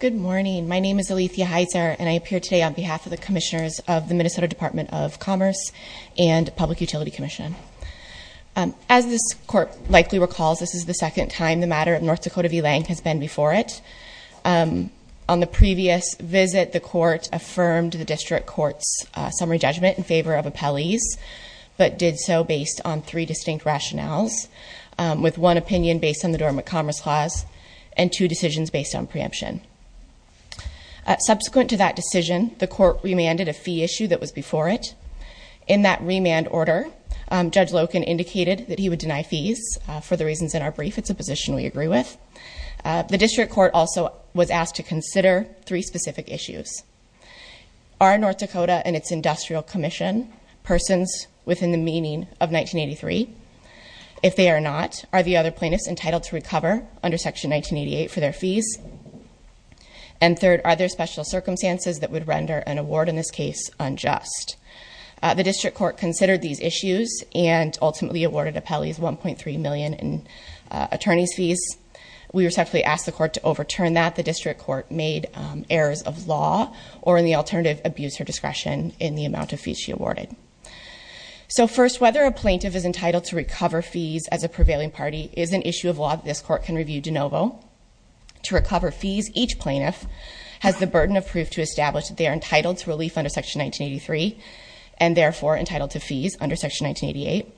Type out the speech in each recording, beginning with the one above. Good morning, my name is Alethea Heizer and I appear today on behalf of the commissioners of the Minnesota Department of Commerce and Public Utility Commission. As this court likely recalls this is the second time the matter of North Dakota v. Lange has been before it. On the previous visit the court affirmed the district court's summary judgment in favor of appellees but did so based on three distinct rationales with one opinion based on the Dormant Commerce Clause and two decisions based on preemption. Subsequent to that decision the court remanded a fee issue that was before it. In that remand order Judge Loken indicated that he would deny fees for the reasons in our brief. It's a position we agree with. The district court also was asked to consider three specific issues. Our North Dakota and its Industrial Commission persons within the meaning of 1983. If they are not, are the other plaintiffs entitled to recover under section 1988 for their fees? And third, are there special circumstances that would render an award in this case unjust? The district court considered these issues and ultimately awarded appellees 1.3 million in attorney's fees. We respectfully asked the court to overturn that. The district court made errors of law or in the alternative abuse or So first, whether a plaintiff is entitled to recover fees as a prevailing party is an issue of law that this court can review de novo. To recover fees each plaintiff has the burden of proof to establish that they are entitled to relief under section 1983 and therefore entitled to fees under section 1988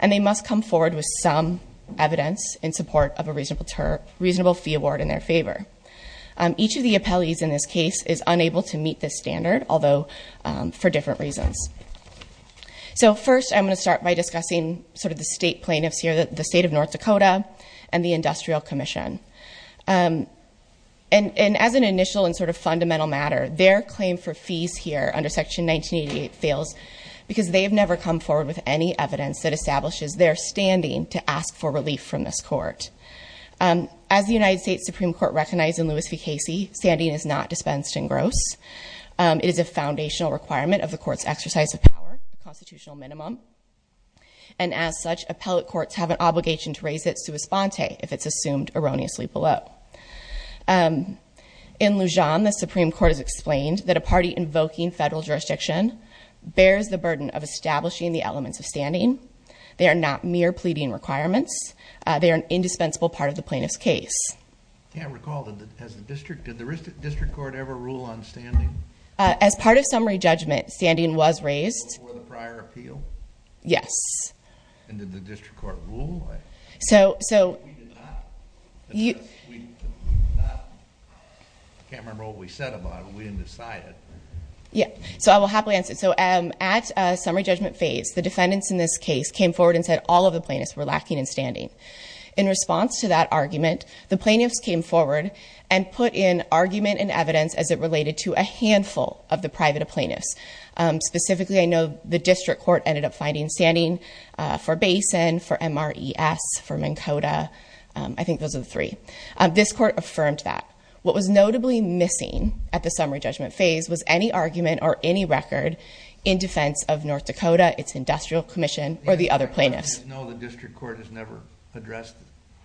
and they must come forward with some evidence in support of a reasonable reasonable fee award in their favor. Each of the appellees in this case is So first, I'm going to start by discussing sort of the state plaintiffs here, the state of North Dakota and the Industrial Commission. Um, and as an initial and sort of fundamental matter, their claim for fees here under section 1988 fails because they have never come forward with any evidence that establishes their standing to ask for relief from this court. Um, as the United States Supreme Court recognized in Lewis v Casey, standing is not dispensed in gross. Um, it is a foundational requirement of the court's exercise of power, the constitutional minimum. And as such, appellate courts have an obligation to raise it sua sponte if it's assumed erroneously below. Um, in Lujan, the Supreme Court has explained that a party invoking federal jurisdiction bears the burden of establishing the elements of standing. They are not mere pleading requirements. They are an indispensable part of the plaintiff's case. I recall that as the district, did the district court ever rule on standing? As part of summary judgment, standing was raised for the prior appeal. Yes. And did the district court rule? So, so you can't remember what we said about it. We didn't decide it. Yeah. So I will happily answer. So at summary judgment phase, the defendants in this case came forward and said all of the plaintiffs were lacking in standing. In response to that argument, the plaintiffs came forward and put in argument and related to a handful of the private plaintiffs. Um, specifically, I know the district court ended up finding standing for basin for M. R. E. S. For Minn Kota. I think those are the three. This court affirmed that what was notably missing at the summary judgment phase was any argument or any record in defense of North Dakota, its industrial commission or the other plaintiffs. No, the district court has never addressed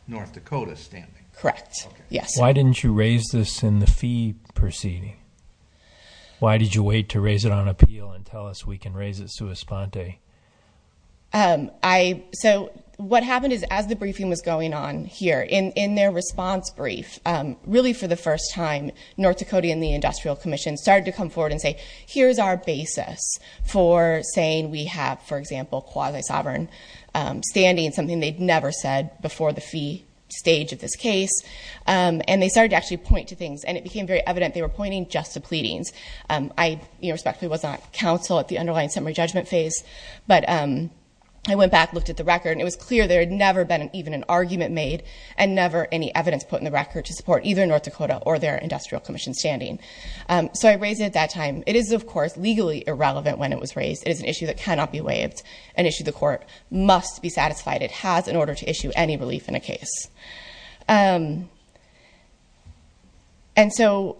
North Dakota standing. Correct. Yes. Why why did you wait to raise it on appeal and tell us we can raise it to a sponte? Um, I, so what happened is, as the briefing was going on here in in their response brief, really for the first time, North Dakota and the industrial commission started to come forward and say, here's our basis for saying we have, for example, quasi sovereign standing, something they'd never said before the fee stage of this case. Um, and they started to actually point to things and it became very evident they were pointing just to pleadings. Um, I respectfully was not counsel at the underlying summary judgment phase, but I went back, looked at the record and it was clear there had never been even an argument made and never any evidence put in the record to support either North Dakota or their industrial commission standing. Um, so I raised it at that time. It is, of course, legally irrelevant when it was raised. It is an issue that cannot be waived and issue. The court must be in a case. Um, and so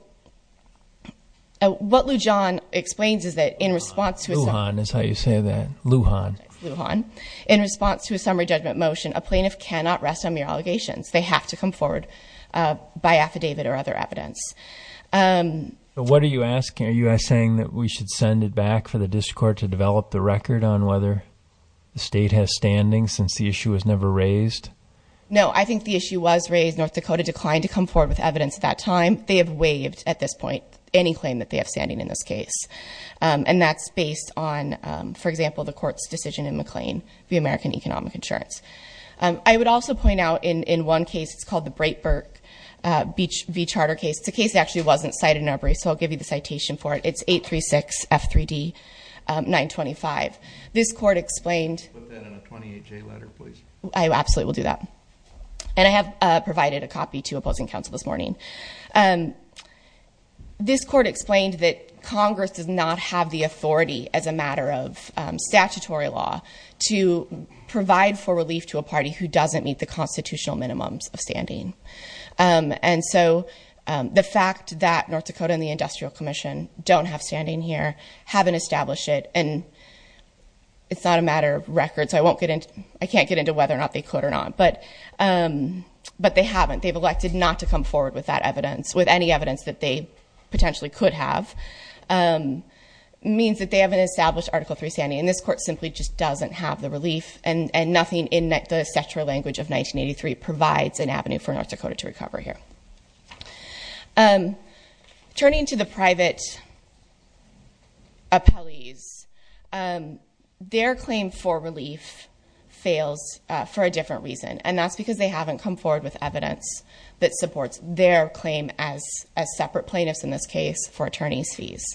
what Lou John explains is that in response to his hon is how you say that Luhan Luhan in response to a summary judgment motion, a plaintiff cannot rest on your allegations. They have to come forward, uh, by affidavit or other evidence. Um, what are you asking? Are you saying that we should send it back for the district court to develop the record on whether the state has standing since the issue was never raised? No, I think the issue was raised. North Dakota declined to come forward with evidence at that time. They have waived at this point any claim that they have standing in this case. Um, and that's based on, um, for example, the court's decision in McLean, the American Economic Insurance. Um, I would also point out in in one case, it's called the Breitberg Beach v Charter case. It's a case that actually wasn't cited in our brief. So I'll give you the citation for it. It's 836 F. Three D. 9 25. This court explained that in a 28 J letter, please. I absolutely will do that. And I have provided a copy to opposing counsel this morning. Um, this court explained that Congress does not have the authority as a matter of statutory law to provide for relief to a party who doesn't meet the constitutional minimums of standing. Um, and so, um, the fact that North Dakota and the Industrial Commission don't have standing here haven't established it, and it's not a matter of records. I won't get in. I can't get into whether or not they could or not. But, um, but they haven't. They've elected not to come forward with that evidence with any evidence that they potentially could have. Um, means that they haven't established Article three standing in this court simply just doesn't have the relief and and nothing in the central language of 1983 provides an avenue for North Dakota to recover here. Um, turning to the private appellees, um, their claim for relief fails for a different reason, and that's because they haven't come forward with evidence that supports their claim as a separate plaintiffs in this case for attorneys fees.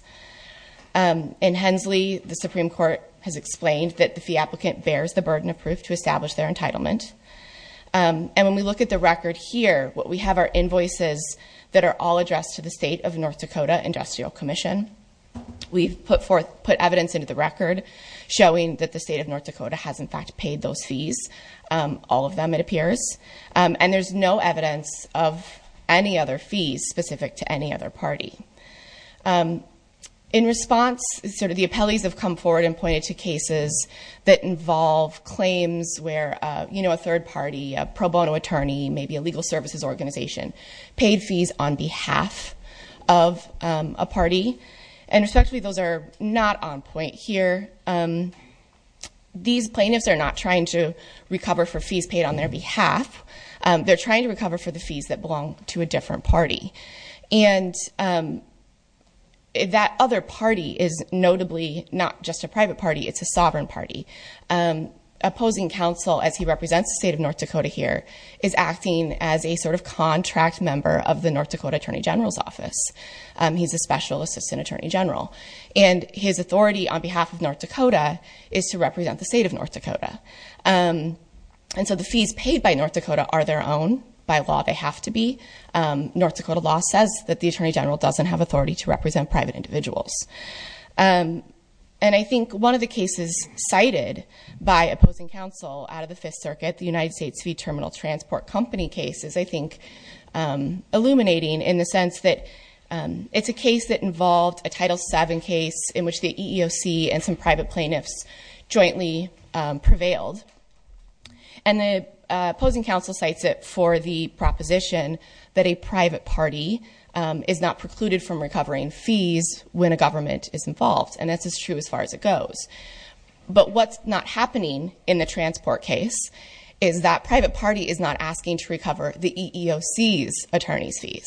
Um, in Hensley, the Supreme Court has explained that the fee applicant bears the burden of proof to establish their entitlement. Um, and when we look at the record here, what we have are invoices that are all addressed to the state of North Dakota Industrial Commission. We've put forth put evidence into the record showing that the state of North Dakota has, in fact, paid those fees. Um, all of them, it appears, and there's no evidence of any other fees specific to any other party. Um, in response, sort of the appellees have come forward and pointed to cases that involve claims where, you know, a third party, a pro bono attorney, maybe a legal services organization paid fees on behalf of a party. And respectfully, those are not on point here. Um, these plaintiffs are not trying to recover for fees paid on their behalf. They're trying to recover for the fees that belong to a different party. And, um, that other party is notably not just a private party. It's a sovereign party. Um, opposing counsel, as he represents the state of North Dakota here, is acting as a sort of contract member of the North Dakota Attorney General's office. Um, he's a special assistant attorney general, and his authority on behalf of North Dakota is to represent the state of North Dakota. Um, and so the fees paid by North Dakota are their own. By law, they have to be. Um, North Dakota law says that the attorney general doesn't have authority to represent private individuals. Um, and I think one of the cases cited by opposing counsel out of the Fifth Circuit, the United States V Terminal Transport Company cases, I think, um, illuminating in the sense that, um, it's a case that involved a title seven case in which the EEOC and some private plaintiffs jointly prevailed. And the opposing counsel cites it for the proposition that a when a government is involved, and that's as true as far as it goes. But what's not happening in the transport case is that private party is not asking to recover the EEOC's attorney's fees,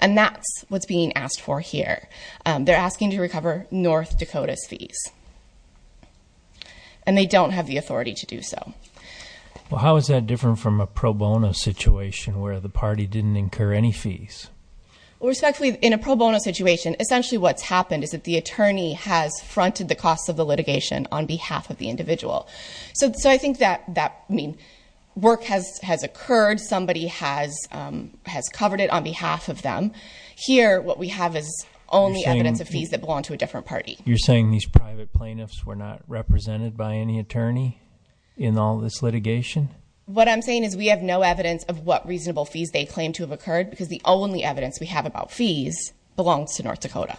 and that's what's being asked for here. They're asking to recover North Dakota's fees, and they don't have the authority to do so. Well, how is that different from a pro bono situation where the party didn't incur any fees? Respectfully, in a pro bono situation, essentially what's happened is that the attorney has fronted the cost of the litigation on behalf of the individual. So I think that that mean work has has occurred. Somebody has has covered it on behalf of them here. What we have is only evidence of fees that belong to a different party. You're saying these private plaintiffs were not represented by any attorney in all this litigation. What I'm saying is we have no evidence of what reasonable fees they claim to have occurred because the only evidence we have about fees belongs to North Dakota.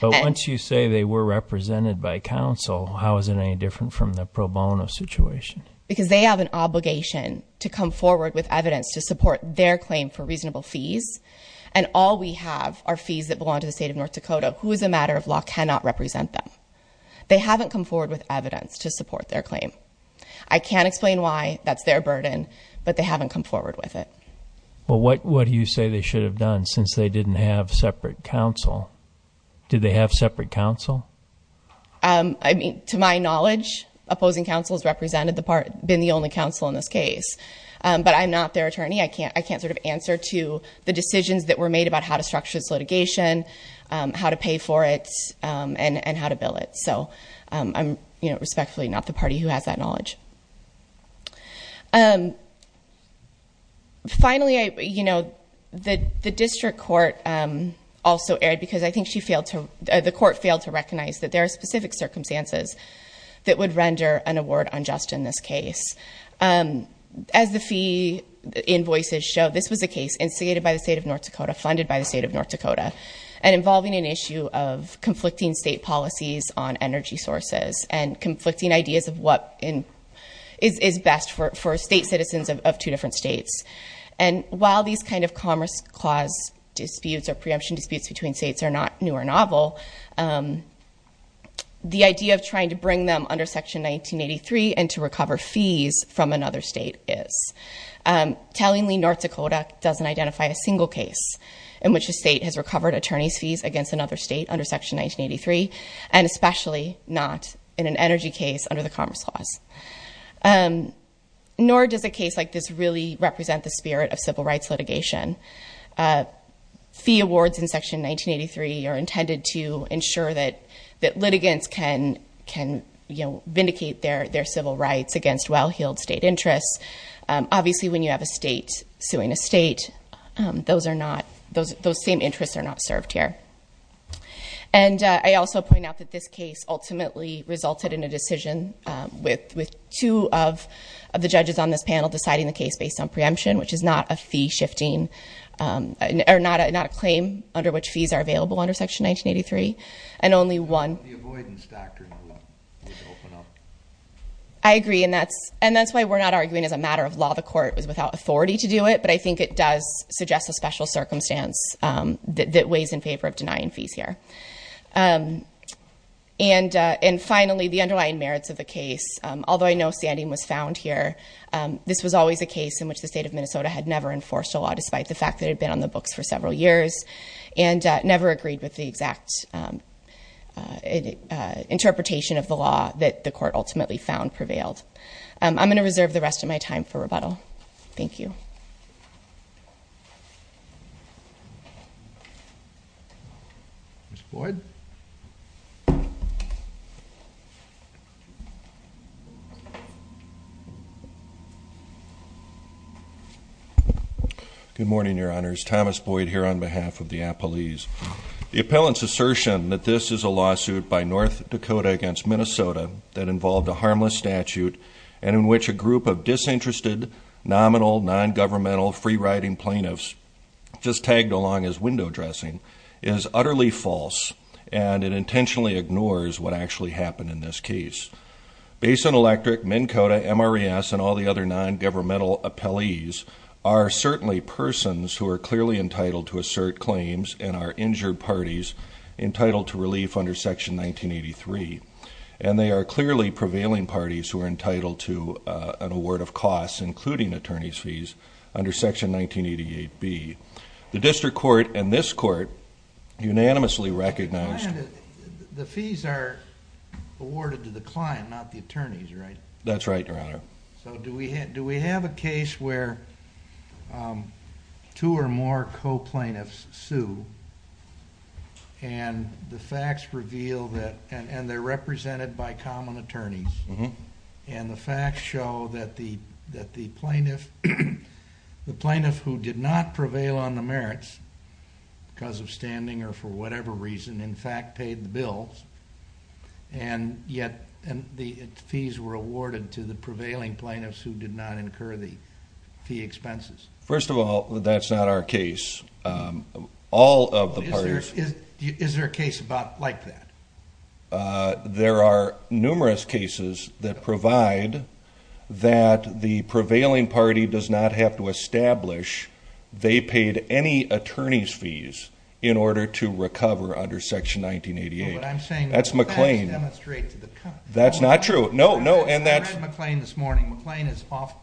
But once you say they were represented by council, how is it any different from the pro bono situation? Because they have an obligation to come forward with evidence to support their claim for reasonable fees, and all we have are fees that belong to the state of North Dakota, who is a matter of law cannot represent them. They haven't come forward with evidence to support their claim. I can't explain why that's their burden, but they haven't come forward with it. Well, what what do you say they should have done since they didn't have separate counsel? Did they have separate counsel? I mean, to my knowledge, opposing counsels represented the part, been the only counsel in this case, but I'm not their attorney. I can't I can't sort of answer to the decisions that were made about how to structure this litigation, how to pay for it, and and how to bill it. So I'm, you know, The district court also erred because I think she failed to, the court failed to recognize that there are specific circumstances that would render an award unjust in this case. As the fee invoices show, this was a case instigated by the state of North Dakota, funded by the state of North Dakota, and involving an issue of conflicting state policies on energy sources, and conflicting ideas of what is best for state citizens of two different states. And while these kind of Commerce Clause disputes or preemption disputes between states are not new or novel, the idea of trying to bring them under Section 1983 and to recover fees from another state is. Tellingly, North Dakota doesn't identify a single case in which the state has recovered attorney's fees against another state under Section 1983, and especially not in an energy case under the Commerce Clause. Nor does a case like this really represent the spirit of civil rights litigation. Fee awards in Section 1983 are intended to ensure that that litigants can can, you know, vindicate their their civil rights against well-heeled state interests. Obviously when you have a state suing a state, those are not, those those same interests are not served here. And I also point out that this case ultimately resulted in a decision with with two of the judges on this panel deciding the case based on preemption, which is not a shifting, or not a claim under which fees are available under Section 1983, and only one. I agree and that's and that's why we're not arguing as a matter of law the court was without authority to do it, but I think it does suggest a special circumstance that weighs in favor of denying fees here. And and finally the underlying merits of the case. Although I know standing was found here, this was always a case in which the state of Minnesota had never enforced a law, despite the fact that had been on the books for several years, and never agreed with the exact interpretation of the law that the court ultimately found prevailed. I'm going to reserve the rest of my time for rebuttal. Thank you. Ms. Floyd? Good morning, your honors. Thomas Boyd here on behalf of the appellees. The appellant's assertion that this is a lawsuit by North Dakota against Minnesota that involved a harmless statute, and in which a group of disinterested, nominal, non-governmental, free-riding plaintiffs, just tagged along as window dressing, is utterly false, and it intentionally ignores what actually happened in this case. Basin Electric, Minn Kota, MRES, and all the other non-governmental appellees are certainly persons who are clearly entitled to assert claims, and are injured parties entitled to relief under section 1983. And they are clearly prevailing parties who are entitled to an award of costs, including attorney's fees, under section 1988b. The district court and this court unanimously recognized. The fees are awarded to the client, not the attorneys, right? That's right, your honor. So do we have a case where two or more co-plaintiffs sue, and the facts reveal that, and they're represented by common attorneys, and the facts show that the plaintiff, the plaintiff who did not prevail on the merits, because of standing, or for whatever reason, in fact paid the bills, and yet the fees were awarded to the prevailing plaintiffs who did not incur the fee expenses? First of all, that's not our case. All of the parties... Is there a case about, like that? There are numerous cases that provide that the paid any attorney's fees in order to recover under section 1988. That's McLean. That's not true. No, no, and that's... McLean is off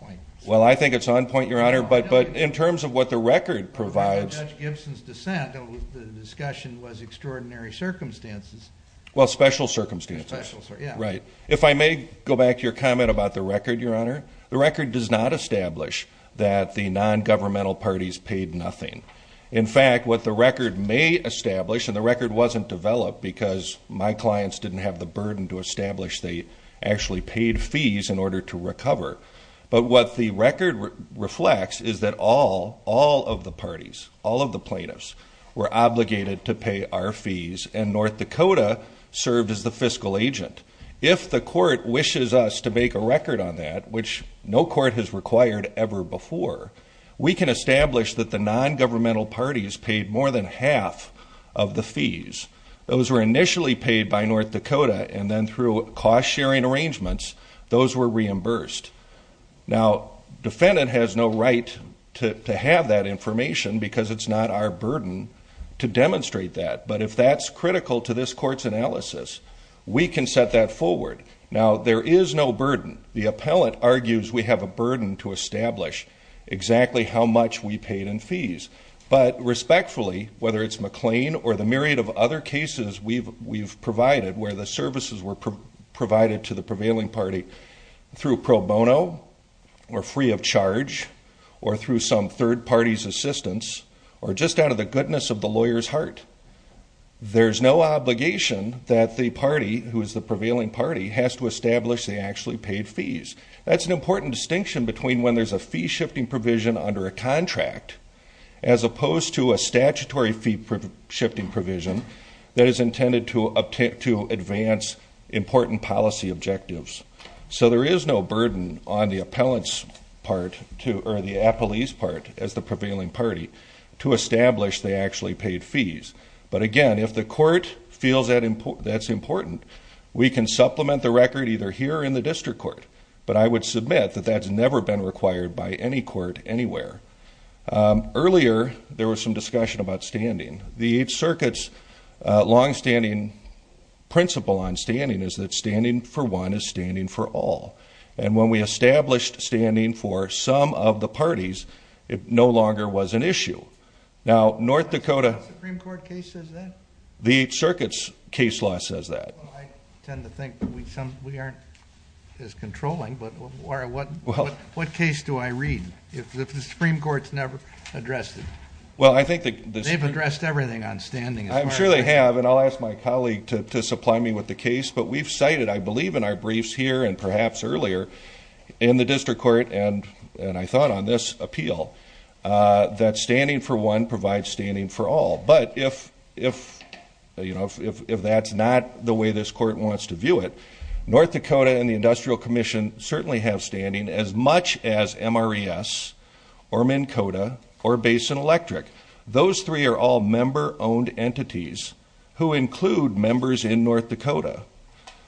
point. Well, I think it's on point, your honor, but in terms of what the record provides... The discussion was extraordinary circumstances. Well, special circumstances. Right. If I may go back to your comment about the record, your honor, the record does not establish that the non-governmental parties paid nothing. In fact, what the record may establish, and the record wasn't developed because my clients didn't have the burden to establish they actually paid fees in order to recover, but what the record reflects is that all, all of the parties, all of the plaintiffs were obligated to pay our fees, and North Dakota. If the court wishes us to make a record on that, which no court has required ever before, we can establish that the non-governmental parties paid more than half of the fees. Those were initially paid by North Dakota, and then through cost-sharing arrangements, those were reimbursed. Now, defendant has no right to have that information because it's not our burden to demonstrate that, but if that's critical to this court's analysis, we can set that forward. Now, there is no burden. The appellant argues we have a burden to establish exactly how much we paid in fees, but respectfully, whether it's McLean or the myriad of other cases we've provided where the services were provided to the prevailing party through pro bono, or free of charge, or through some third party's assistance, or just out of the goodness of the lawyer's heart, there's no obligation that the party, who is the prevailing party, has to establish they actually paid fees. That's an important distinction between when there's a fee shifting provision under a contract, as opposed to a statutory fee shifting provision that is intended to advance important policy objectives. So, there is no burden on the appellant's part, or the appellee's part, as the they actually paid fees. But again, if the court feels that's important, we can supplement the record either here or in the district court, but I would submit that that's never been required by any court anywhere. Earlier, there was some discussion about standing. The Eighth Circuit's long-standing principle on standing is that standing for one is standing for all, and when we North Dakota, the Eighth Circuit's case law says that. I tend to think we aren't as controlling, but what case do I read if the Supreme Court's never addressed it? Well, I think they've addressed everything on standing. I'm sure they have, and I'll ask my colleague to supply me with the case, but we've cited, I believe in our briefs here, and perhaps earlier in the district court, and I thought on this appeal, that standing for one provides standing for all. But if, you know, if that's not the way this court wants to view it, North Dakota and the Industrial Commission certainly have standing as much as MRES, or Minn Kota, or Basin Electric. Those three are all member-owned entities who include members in North Dakota.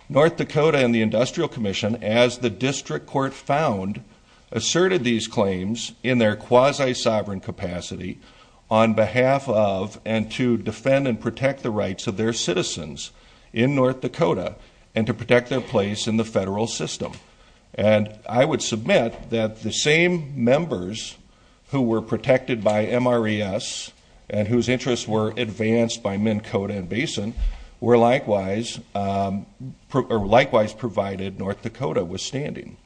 North Dakota and the Industrial Commission, as the district court found, asserted these claims in their quasi-sovereign capacity on behalf of, and to defend and protect the rights of their citizens in North Dakota, and to protect their place in the federal system. And I would submit that the same members who were protected by MRES, and whose interests were advanced by Minn Kota and Basin, were likewise provided North Dakota with standing.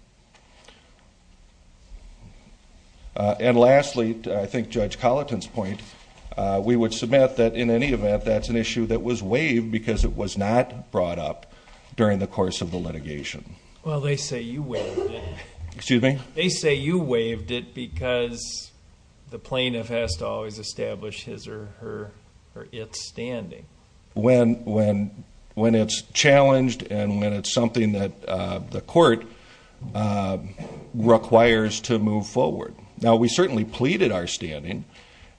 And lastly, I think Judge Colleton's point, we would submit that in any event, that's an issue that was waived because it was not brought up during the course of the litigation. Well, they say you waived it. Excuse me? They say you waived it because the plaintiff has to always establish his or her, or its standing. When it's challenged, and when it's something that the court requires to move forward. Now, we certainly pleaded our standing,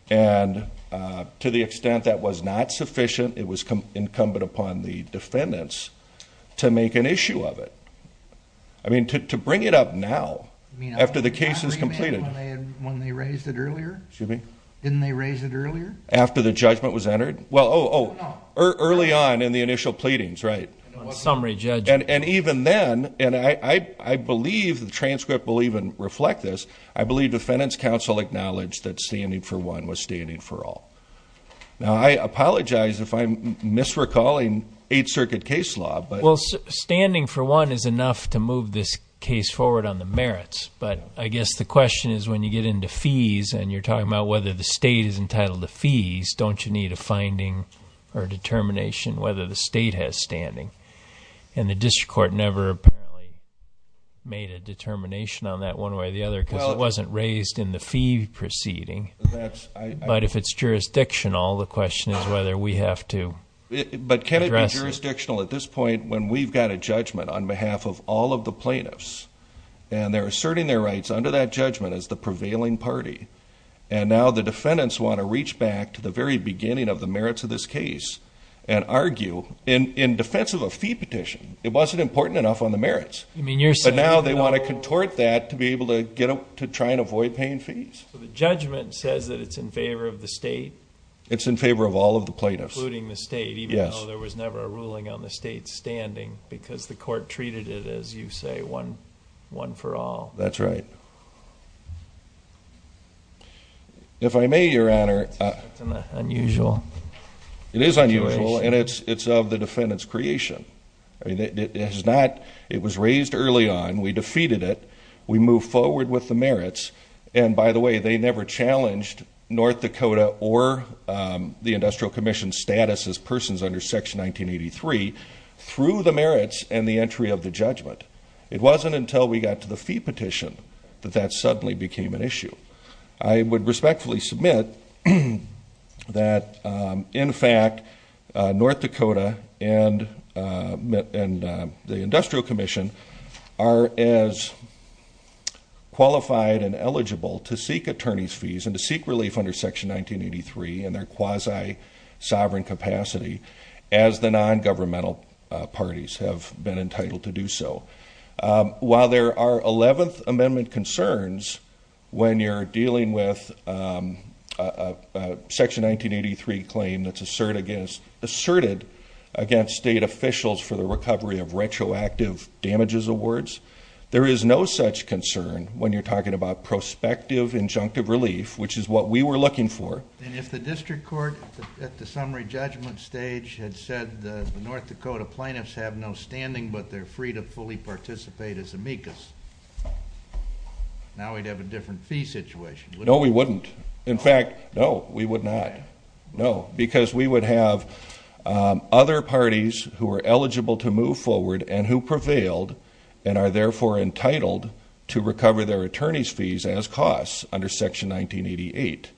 and to the extent that was not sufficient, it was incumbent upon the defendants to make an issue of it. I mean, to bring it up now, after the case is entered? Well, oh, early on in the initial pleadings, right. Summary judge. And even then, and I believe the transcript will even reflect this, I believe defendants counsel acknowledged that standing for one was standing for all. Now, I apologize if I'm misrecalling Eighth Circuit case law. Well, standing for one is enough to move this case forward on the merits, but I guess the question is when you get into fees, and you're talking about whether the state is entitled to fees, don't you need a finding or determination whether the state has standing? And the district court never made a determination on that one way or the other because it wasn't raised in the fee proceeding. But if it's jurisdictional, the question is whether we have to. But can it be jurisdictional at this point when we've got a judgment on behalf of all of the plaintiffs, and they're asserting their rights under that judgment as the prevailing party, and now the defendants want to reach back to the very beginning of the merits of this case and argue, in defense of a fee petition, it wasn't important enough on the merits. But now they want to contort that to be able to get up to try and avoid paying fees. So the judgment says that it's in favor of the state? It's in favor of all of the plaintiffs. Including the state, even though there was never a ruling on the state's standing because the court treated it as, you say, one for all. That's right. If I may, Your Honor, it's unusual. It is unusual, and it's of the defendant's creation. It was raised early on. We defeated it. We move forward with the merits. And by the way, they never challenged North Dakota or the Industrial Commission's status as persons under Section 1983 through the merits and the entry of the judgment. It wasn't until we got to the fee petition that that suddenly became an issue. I would respectfully submit that, in fact, North Dakota and the Industrial Commission are as qualified and eligible to seek attorneys fees and to seek relief under Section 1983 in their quasi-sovereign capacity as the nongovernmental parties have been entitled to do so. While there are 11th Amendment concerns, when you're dealing with a Section 1983 claim that's asserted against state officials for the recovery of retroactive damages awards, there is no such concern when you're talking about prospective injunctive relief, which is what we were looking for. And if the judgment stage had said the North Dakota plaintiffs have no standing but they're free to fully participate as amicus, now we'd have a different fee situation. No, we wouldn't. In fact, no, we would not. No, because we would have other parties who are eligible to move forward and who prevailed and are therefore entitled to recover their attorneys fees as costs under Section 1988.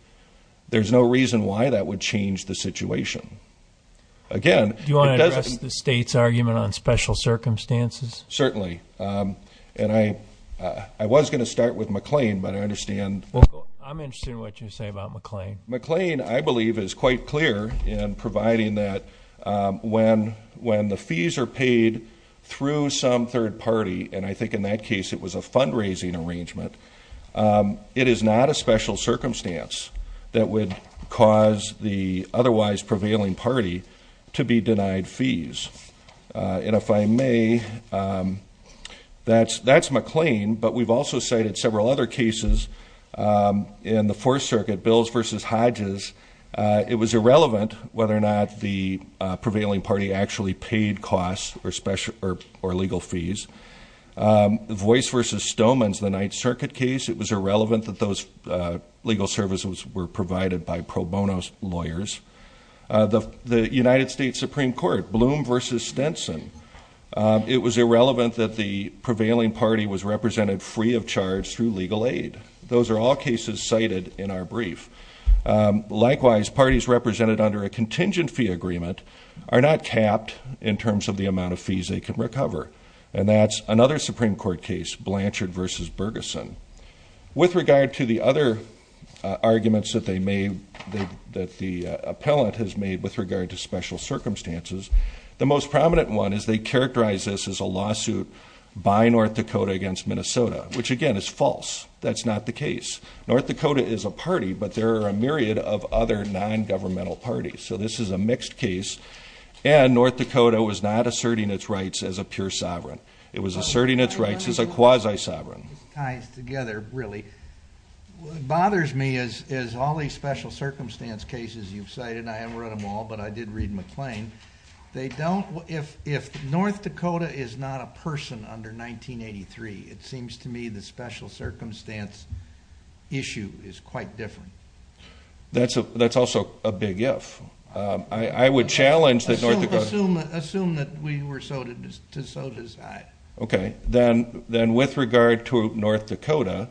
There's no reason why that would change the situation. Again... Do you want to address the state's argument on special circumstances? Certainly. And I was going to start with McLean, but I understand... I'm interested in what you say about McLean. McLean, I believe, is quite clear in providing that when the fees are paid through some third party, and I think in that case it was a fundraising arrangement, it is not a special circumstance that would cause the otherwise prevailing party to be denied fees. And if I may, that's McLean, but we've also cited several other cases in the Fourth Circuit, Bills v. Hodges. It was irrelevant whether or not the prevailing party actually paid costs or special or legal fees. Voice v. Stowmans, the Ninth Circuit case, it was irrelevant that those legal services were provided by pro bono lawyers. The United States Supreme Court, Bloom v. Stinson, it was irrelevant that the prevailing party was represented free of charge through legal aid. Those are all cases cited in our brief. Likewise, parties represented under a contingent fee agreement are not capped in terms of the amount of fees they can recover. And that's another Supreme Court case, Blanchard v. Bergeson. With regard to the other arguments that they made, that the appellant has made with regard to special circumstances, the most prominent one is they characterize this as a lawsuit by North Dakota against Minnesota, which again is false. That's not the case. North Dakota is a party, but there are a myriad of other non-governmental parties. So this is a mixed case, and North Dakota was not asserting its rights as a pure sovereign. It was asserting its rights as a quasi sovereign. It ties together, really. What bothers me is all these special circumstance cases you've cited, and I haven't read them all, but I did read McLean. If North Dakota is not a person under 1983, it seems to me the special circumstance issue is quite different. That's also a big if. I would challenge that North Dakota... Okay. Then with regard to North Dakota,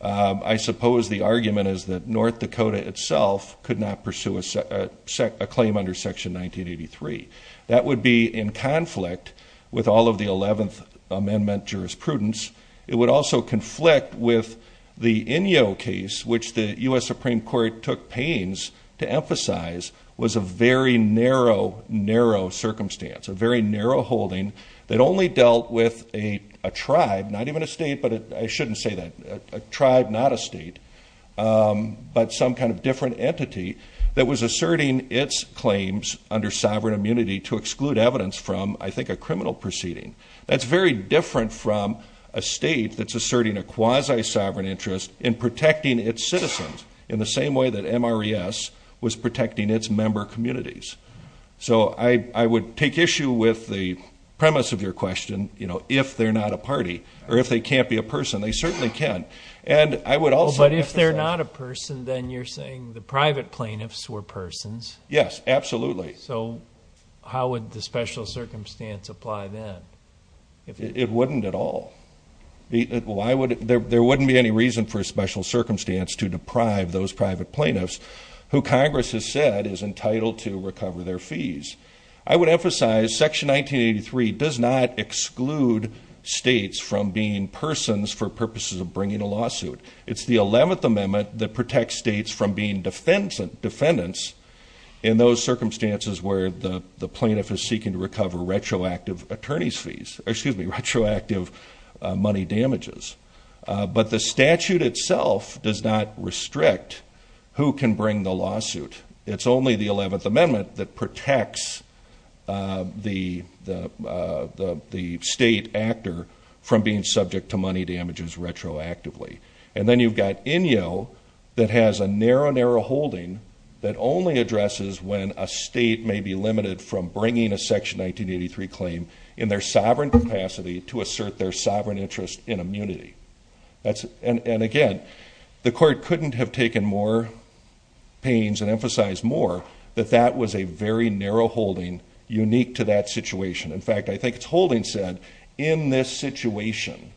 I suppose the argument is that North Dakota itself could not pursue a claim under Section 1983. That would be in conflict with all of the 11th Amendment jurisprudence. It would also conflict with the Inyo case, which the US Supreme Court took pains to emphasize was a very narrow, narrow circumstance, a very narrow holding that only dealt with a tribe, not even a state, but I shouldn't say that, a tribe, not a state, but some kind of different entity that was asserting its claims under sovereign immunity to exclude evidence from, I think, a criminal proceeding. That's very different from a state that's asserting a quasi sovereign interest in protecting its citizens in the same way that MRES was protecting its member communities. So I would take issue with the premise of your question, you know, if they're not a party or if they can't be a person. They certainly can. And I would also... But if they're not a person, then you're saying the private plaintiffs were persons? Yes, absolutely. So how would the special circumstance apply then? It wouldn't at all. There wouldn't be any reason for a private plaintiffs who Congress has said is entitled to recover their fees. I would emphasize Section 1983 does not exclude states from being persons for purposes of bringing a lawsuit. It's the 11th Amendment that protects states from being defendants in those circumstances where the plaintiff is seeking to recover retroactive attorneys fees, excuse me, retroactive money damages. But the statute itself does not restrict who can bring the lawsuit. It's only the 11th Amendment that protects the state actor from being subject to money damages retroactively. And then you've got Inyo that has a narrow, narrow holding that only addresses when a state may be limited from bringing a Section 1983 claim in their sovereign capacity to assert their sovereign interest in immunity. And again, the court couldn't have taken more pains and emphasized more that that was a very narrow holding unique to that situation. In fact, I think it's holding said, in this situation,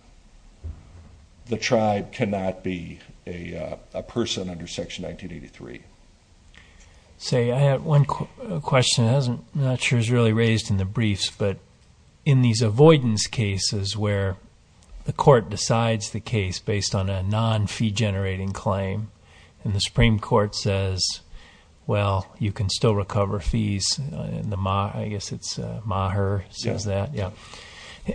the tribe cannot be a person under Section 1983. Say, I have one question. I'm not sure it's really raised in the briefs, but in these avoidance cases where the court decides the case based on a non-fee-generating claim, and the Supreme Court says, well, you can still recover fees, and I guess it's Maher says that.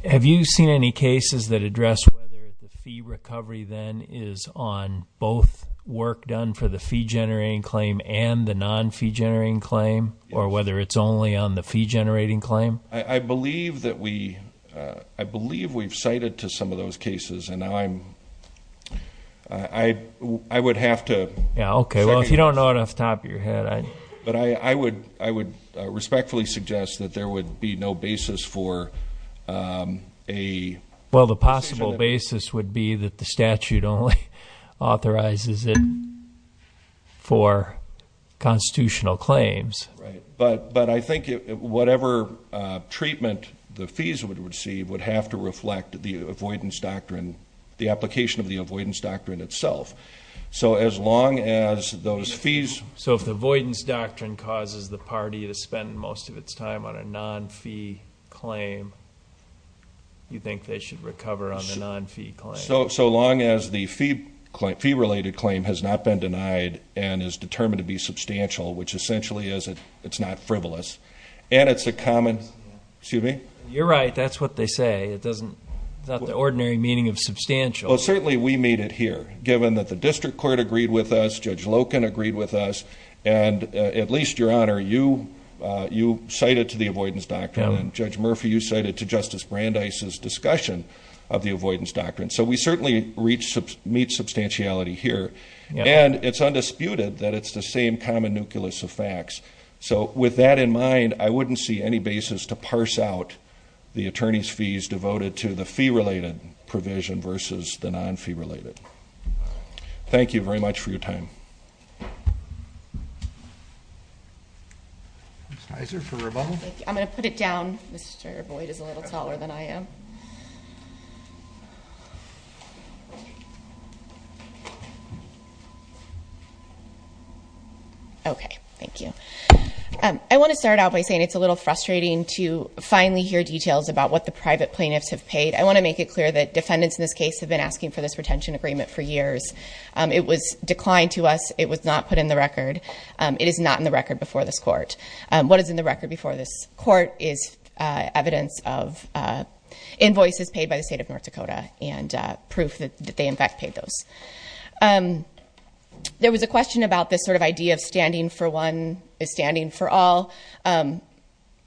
Have you seen any cases that address whether the fee recovery then is on both work done for the fee-generating claim and the non-fee-generating claim, or whether it's only on the fee-generating claim? I believe that we, I believe we've cited to some of those cases, and now I'm, I would have to... Yeah, okay, well, if you don't know it off the top of your head, I... But I would respectfully suggest that there would be no basis for a... Well, the possible basis would be that the I think whatever treatment the fees would receive would have to reflect the avoidance doctrine, the application of the avoidance doctrine itself. So, as long as those fees... So, if the avoidance doctrine causes the party to spend most of its time on a non-fee claim, you think they should recover on the non-fee claim? So, so long as the fee-related claim has not been denied and is it's a common... Excuse me? You're right, that's what they say. It doesn't, it's not the ordinary meaning of substantial. Well, certainly we made it here, given that the district court agreed with us, Judge Loken agreed with us, and at least, Your Honor, you, you cited to the avoidance doctrine, and Judge Murphy, you cited to Justice Brandeis' discussion of the avoidance doctrine. So, we certainly reached, meet substantiality here, and it's undisputed that it's the same common nucleus of facts. So, with that in mind, I wouldn't see any basis to parse out the attorney's fees devoted to the fee-related provision versus the non-fee related. Thank you very much for your time. Ms. Heiser for rebuttal? I'm gonna put it down. Mr. Boyd is a little taller than I am. Okay, thank you. I want to start out by saying it's a little frustrating to finally hear details about what the private plaintiffs have paid. I want to make it clear that defendants in this case have been asking for this retention agreement for years. It was declined to us. It was not put in the record. It is not in the record before this court. What is in the record before this court is evidence of invoices paid by the state of North Dakota and proof that they in fact paid those. There was a question about this sort of idea of standing for one is standing for all.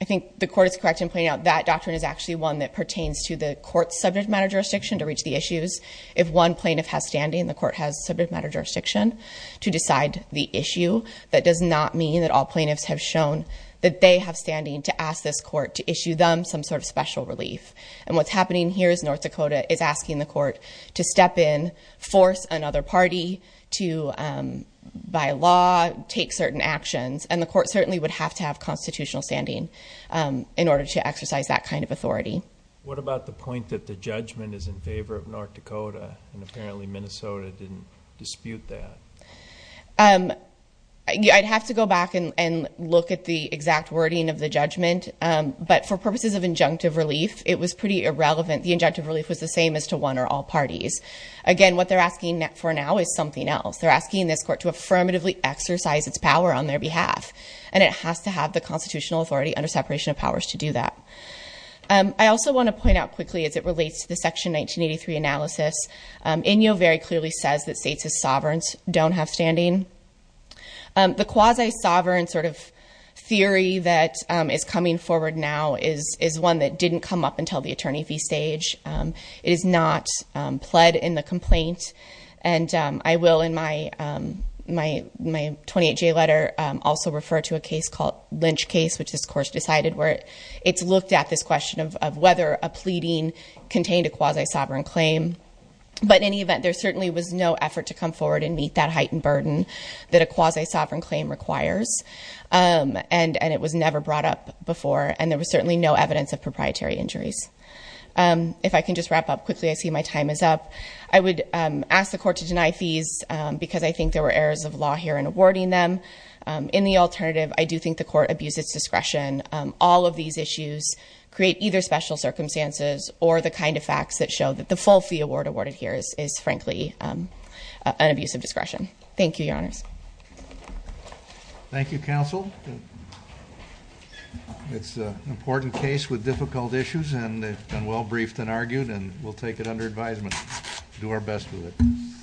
I think the court is correct in pointing out that doctrine is actually one that pertains to the court's subject matter jurisdiction to reach the issues. If one plaintiff has standing, the court has subject matter jurisdiction to decide the issue. That does not mean that all plaintiffs have shown that they have standing to ask this court to issue them some sort of special relief. And what's happening here is North Dakota is asking the court to step in, force another party to by law take certain actions and the court certainly would have to have constitutional standing in order to exercise that kind of authority. What about the point that the judgment is in favor of North Dakota and apparently Minnesota didn't dispute that? I'd have to go back and look at the exact wording of the judgment but for purposes of injunctive relief it was pretty irrelevant. The injunctive relief was the all parties. Again what they're asking for now is something else. They're asking this court to affirmatively exercise its power on their behalf and it has to have the constitutional authority under separation of powers to do that. I also want to point out quickly as it relates to the section 1983 analysis, Inyo very clearly says that states as sovereigns don't have standing. The quasi-sovereign sort of theory that is coming forward now is is one that didn't come up until the attorney fee stage. It is not pled in the complaint and I will in my 28J letter also refer to a case called Lynch case which this course decided where it's looked at this question of whether a pleading contained a quasi-sovereign claim but in any event there certainly was no effort to come forward and meet that heightened burden that a quasi-sovereign claim requires and it was never brought up before and there was certainly no evidence of If I can just wrap up quickly I see my time is up. I would ask the court to deny fees because I think there were errors of law here in awarding them. In the alternative I do think the court abused its discretion. All of these issues create either special circumstances or the kind of facts that show that the full fee award awarded here is frankly an abuse of discretion. Thank you your honors. Thank you counsel. It's an important case with difficult issues and well briefed and argued and we'll take it under advisement. Do our best with it.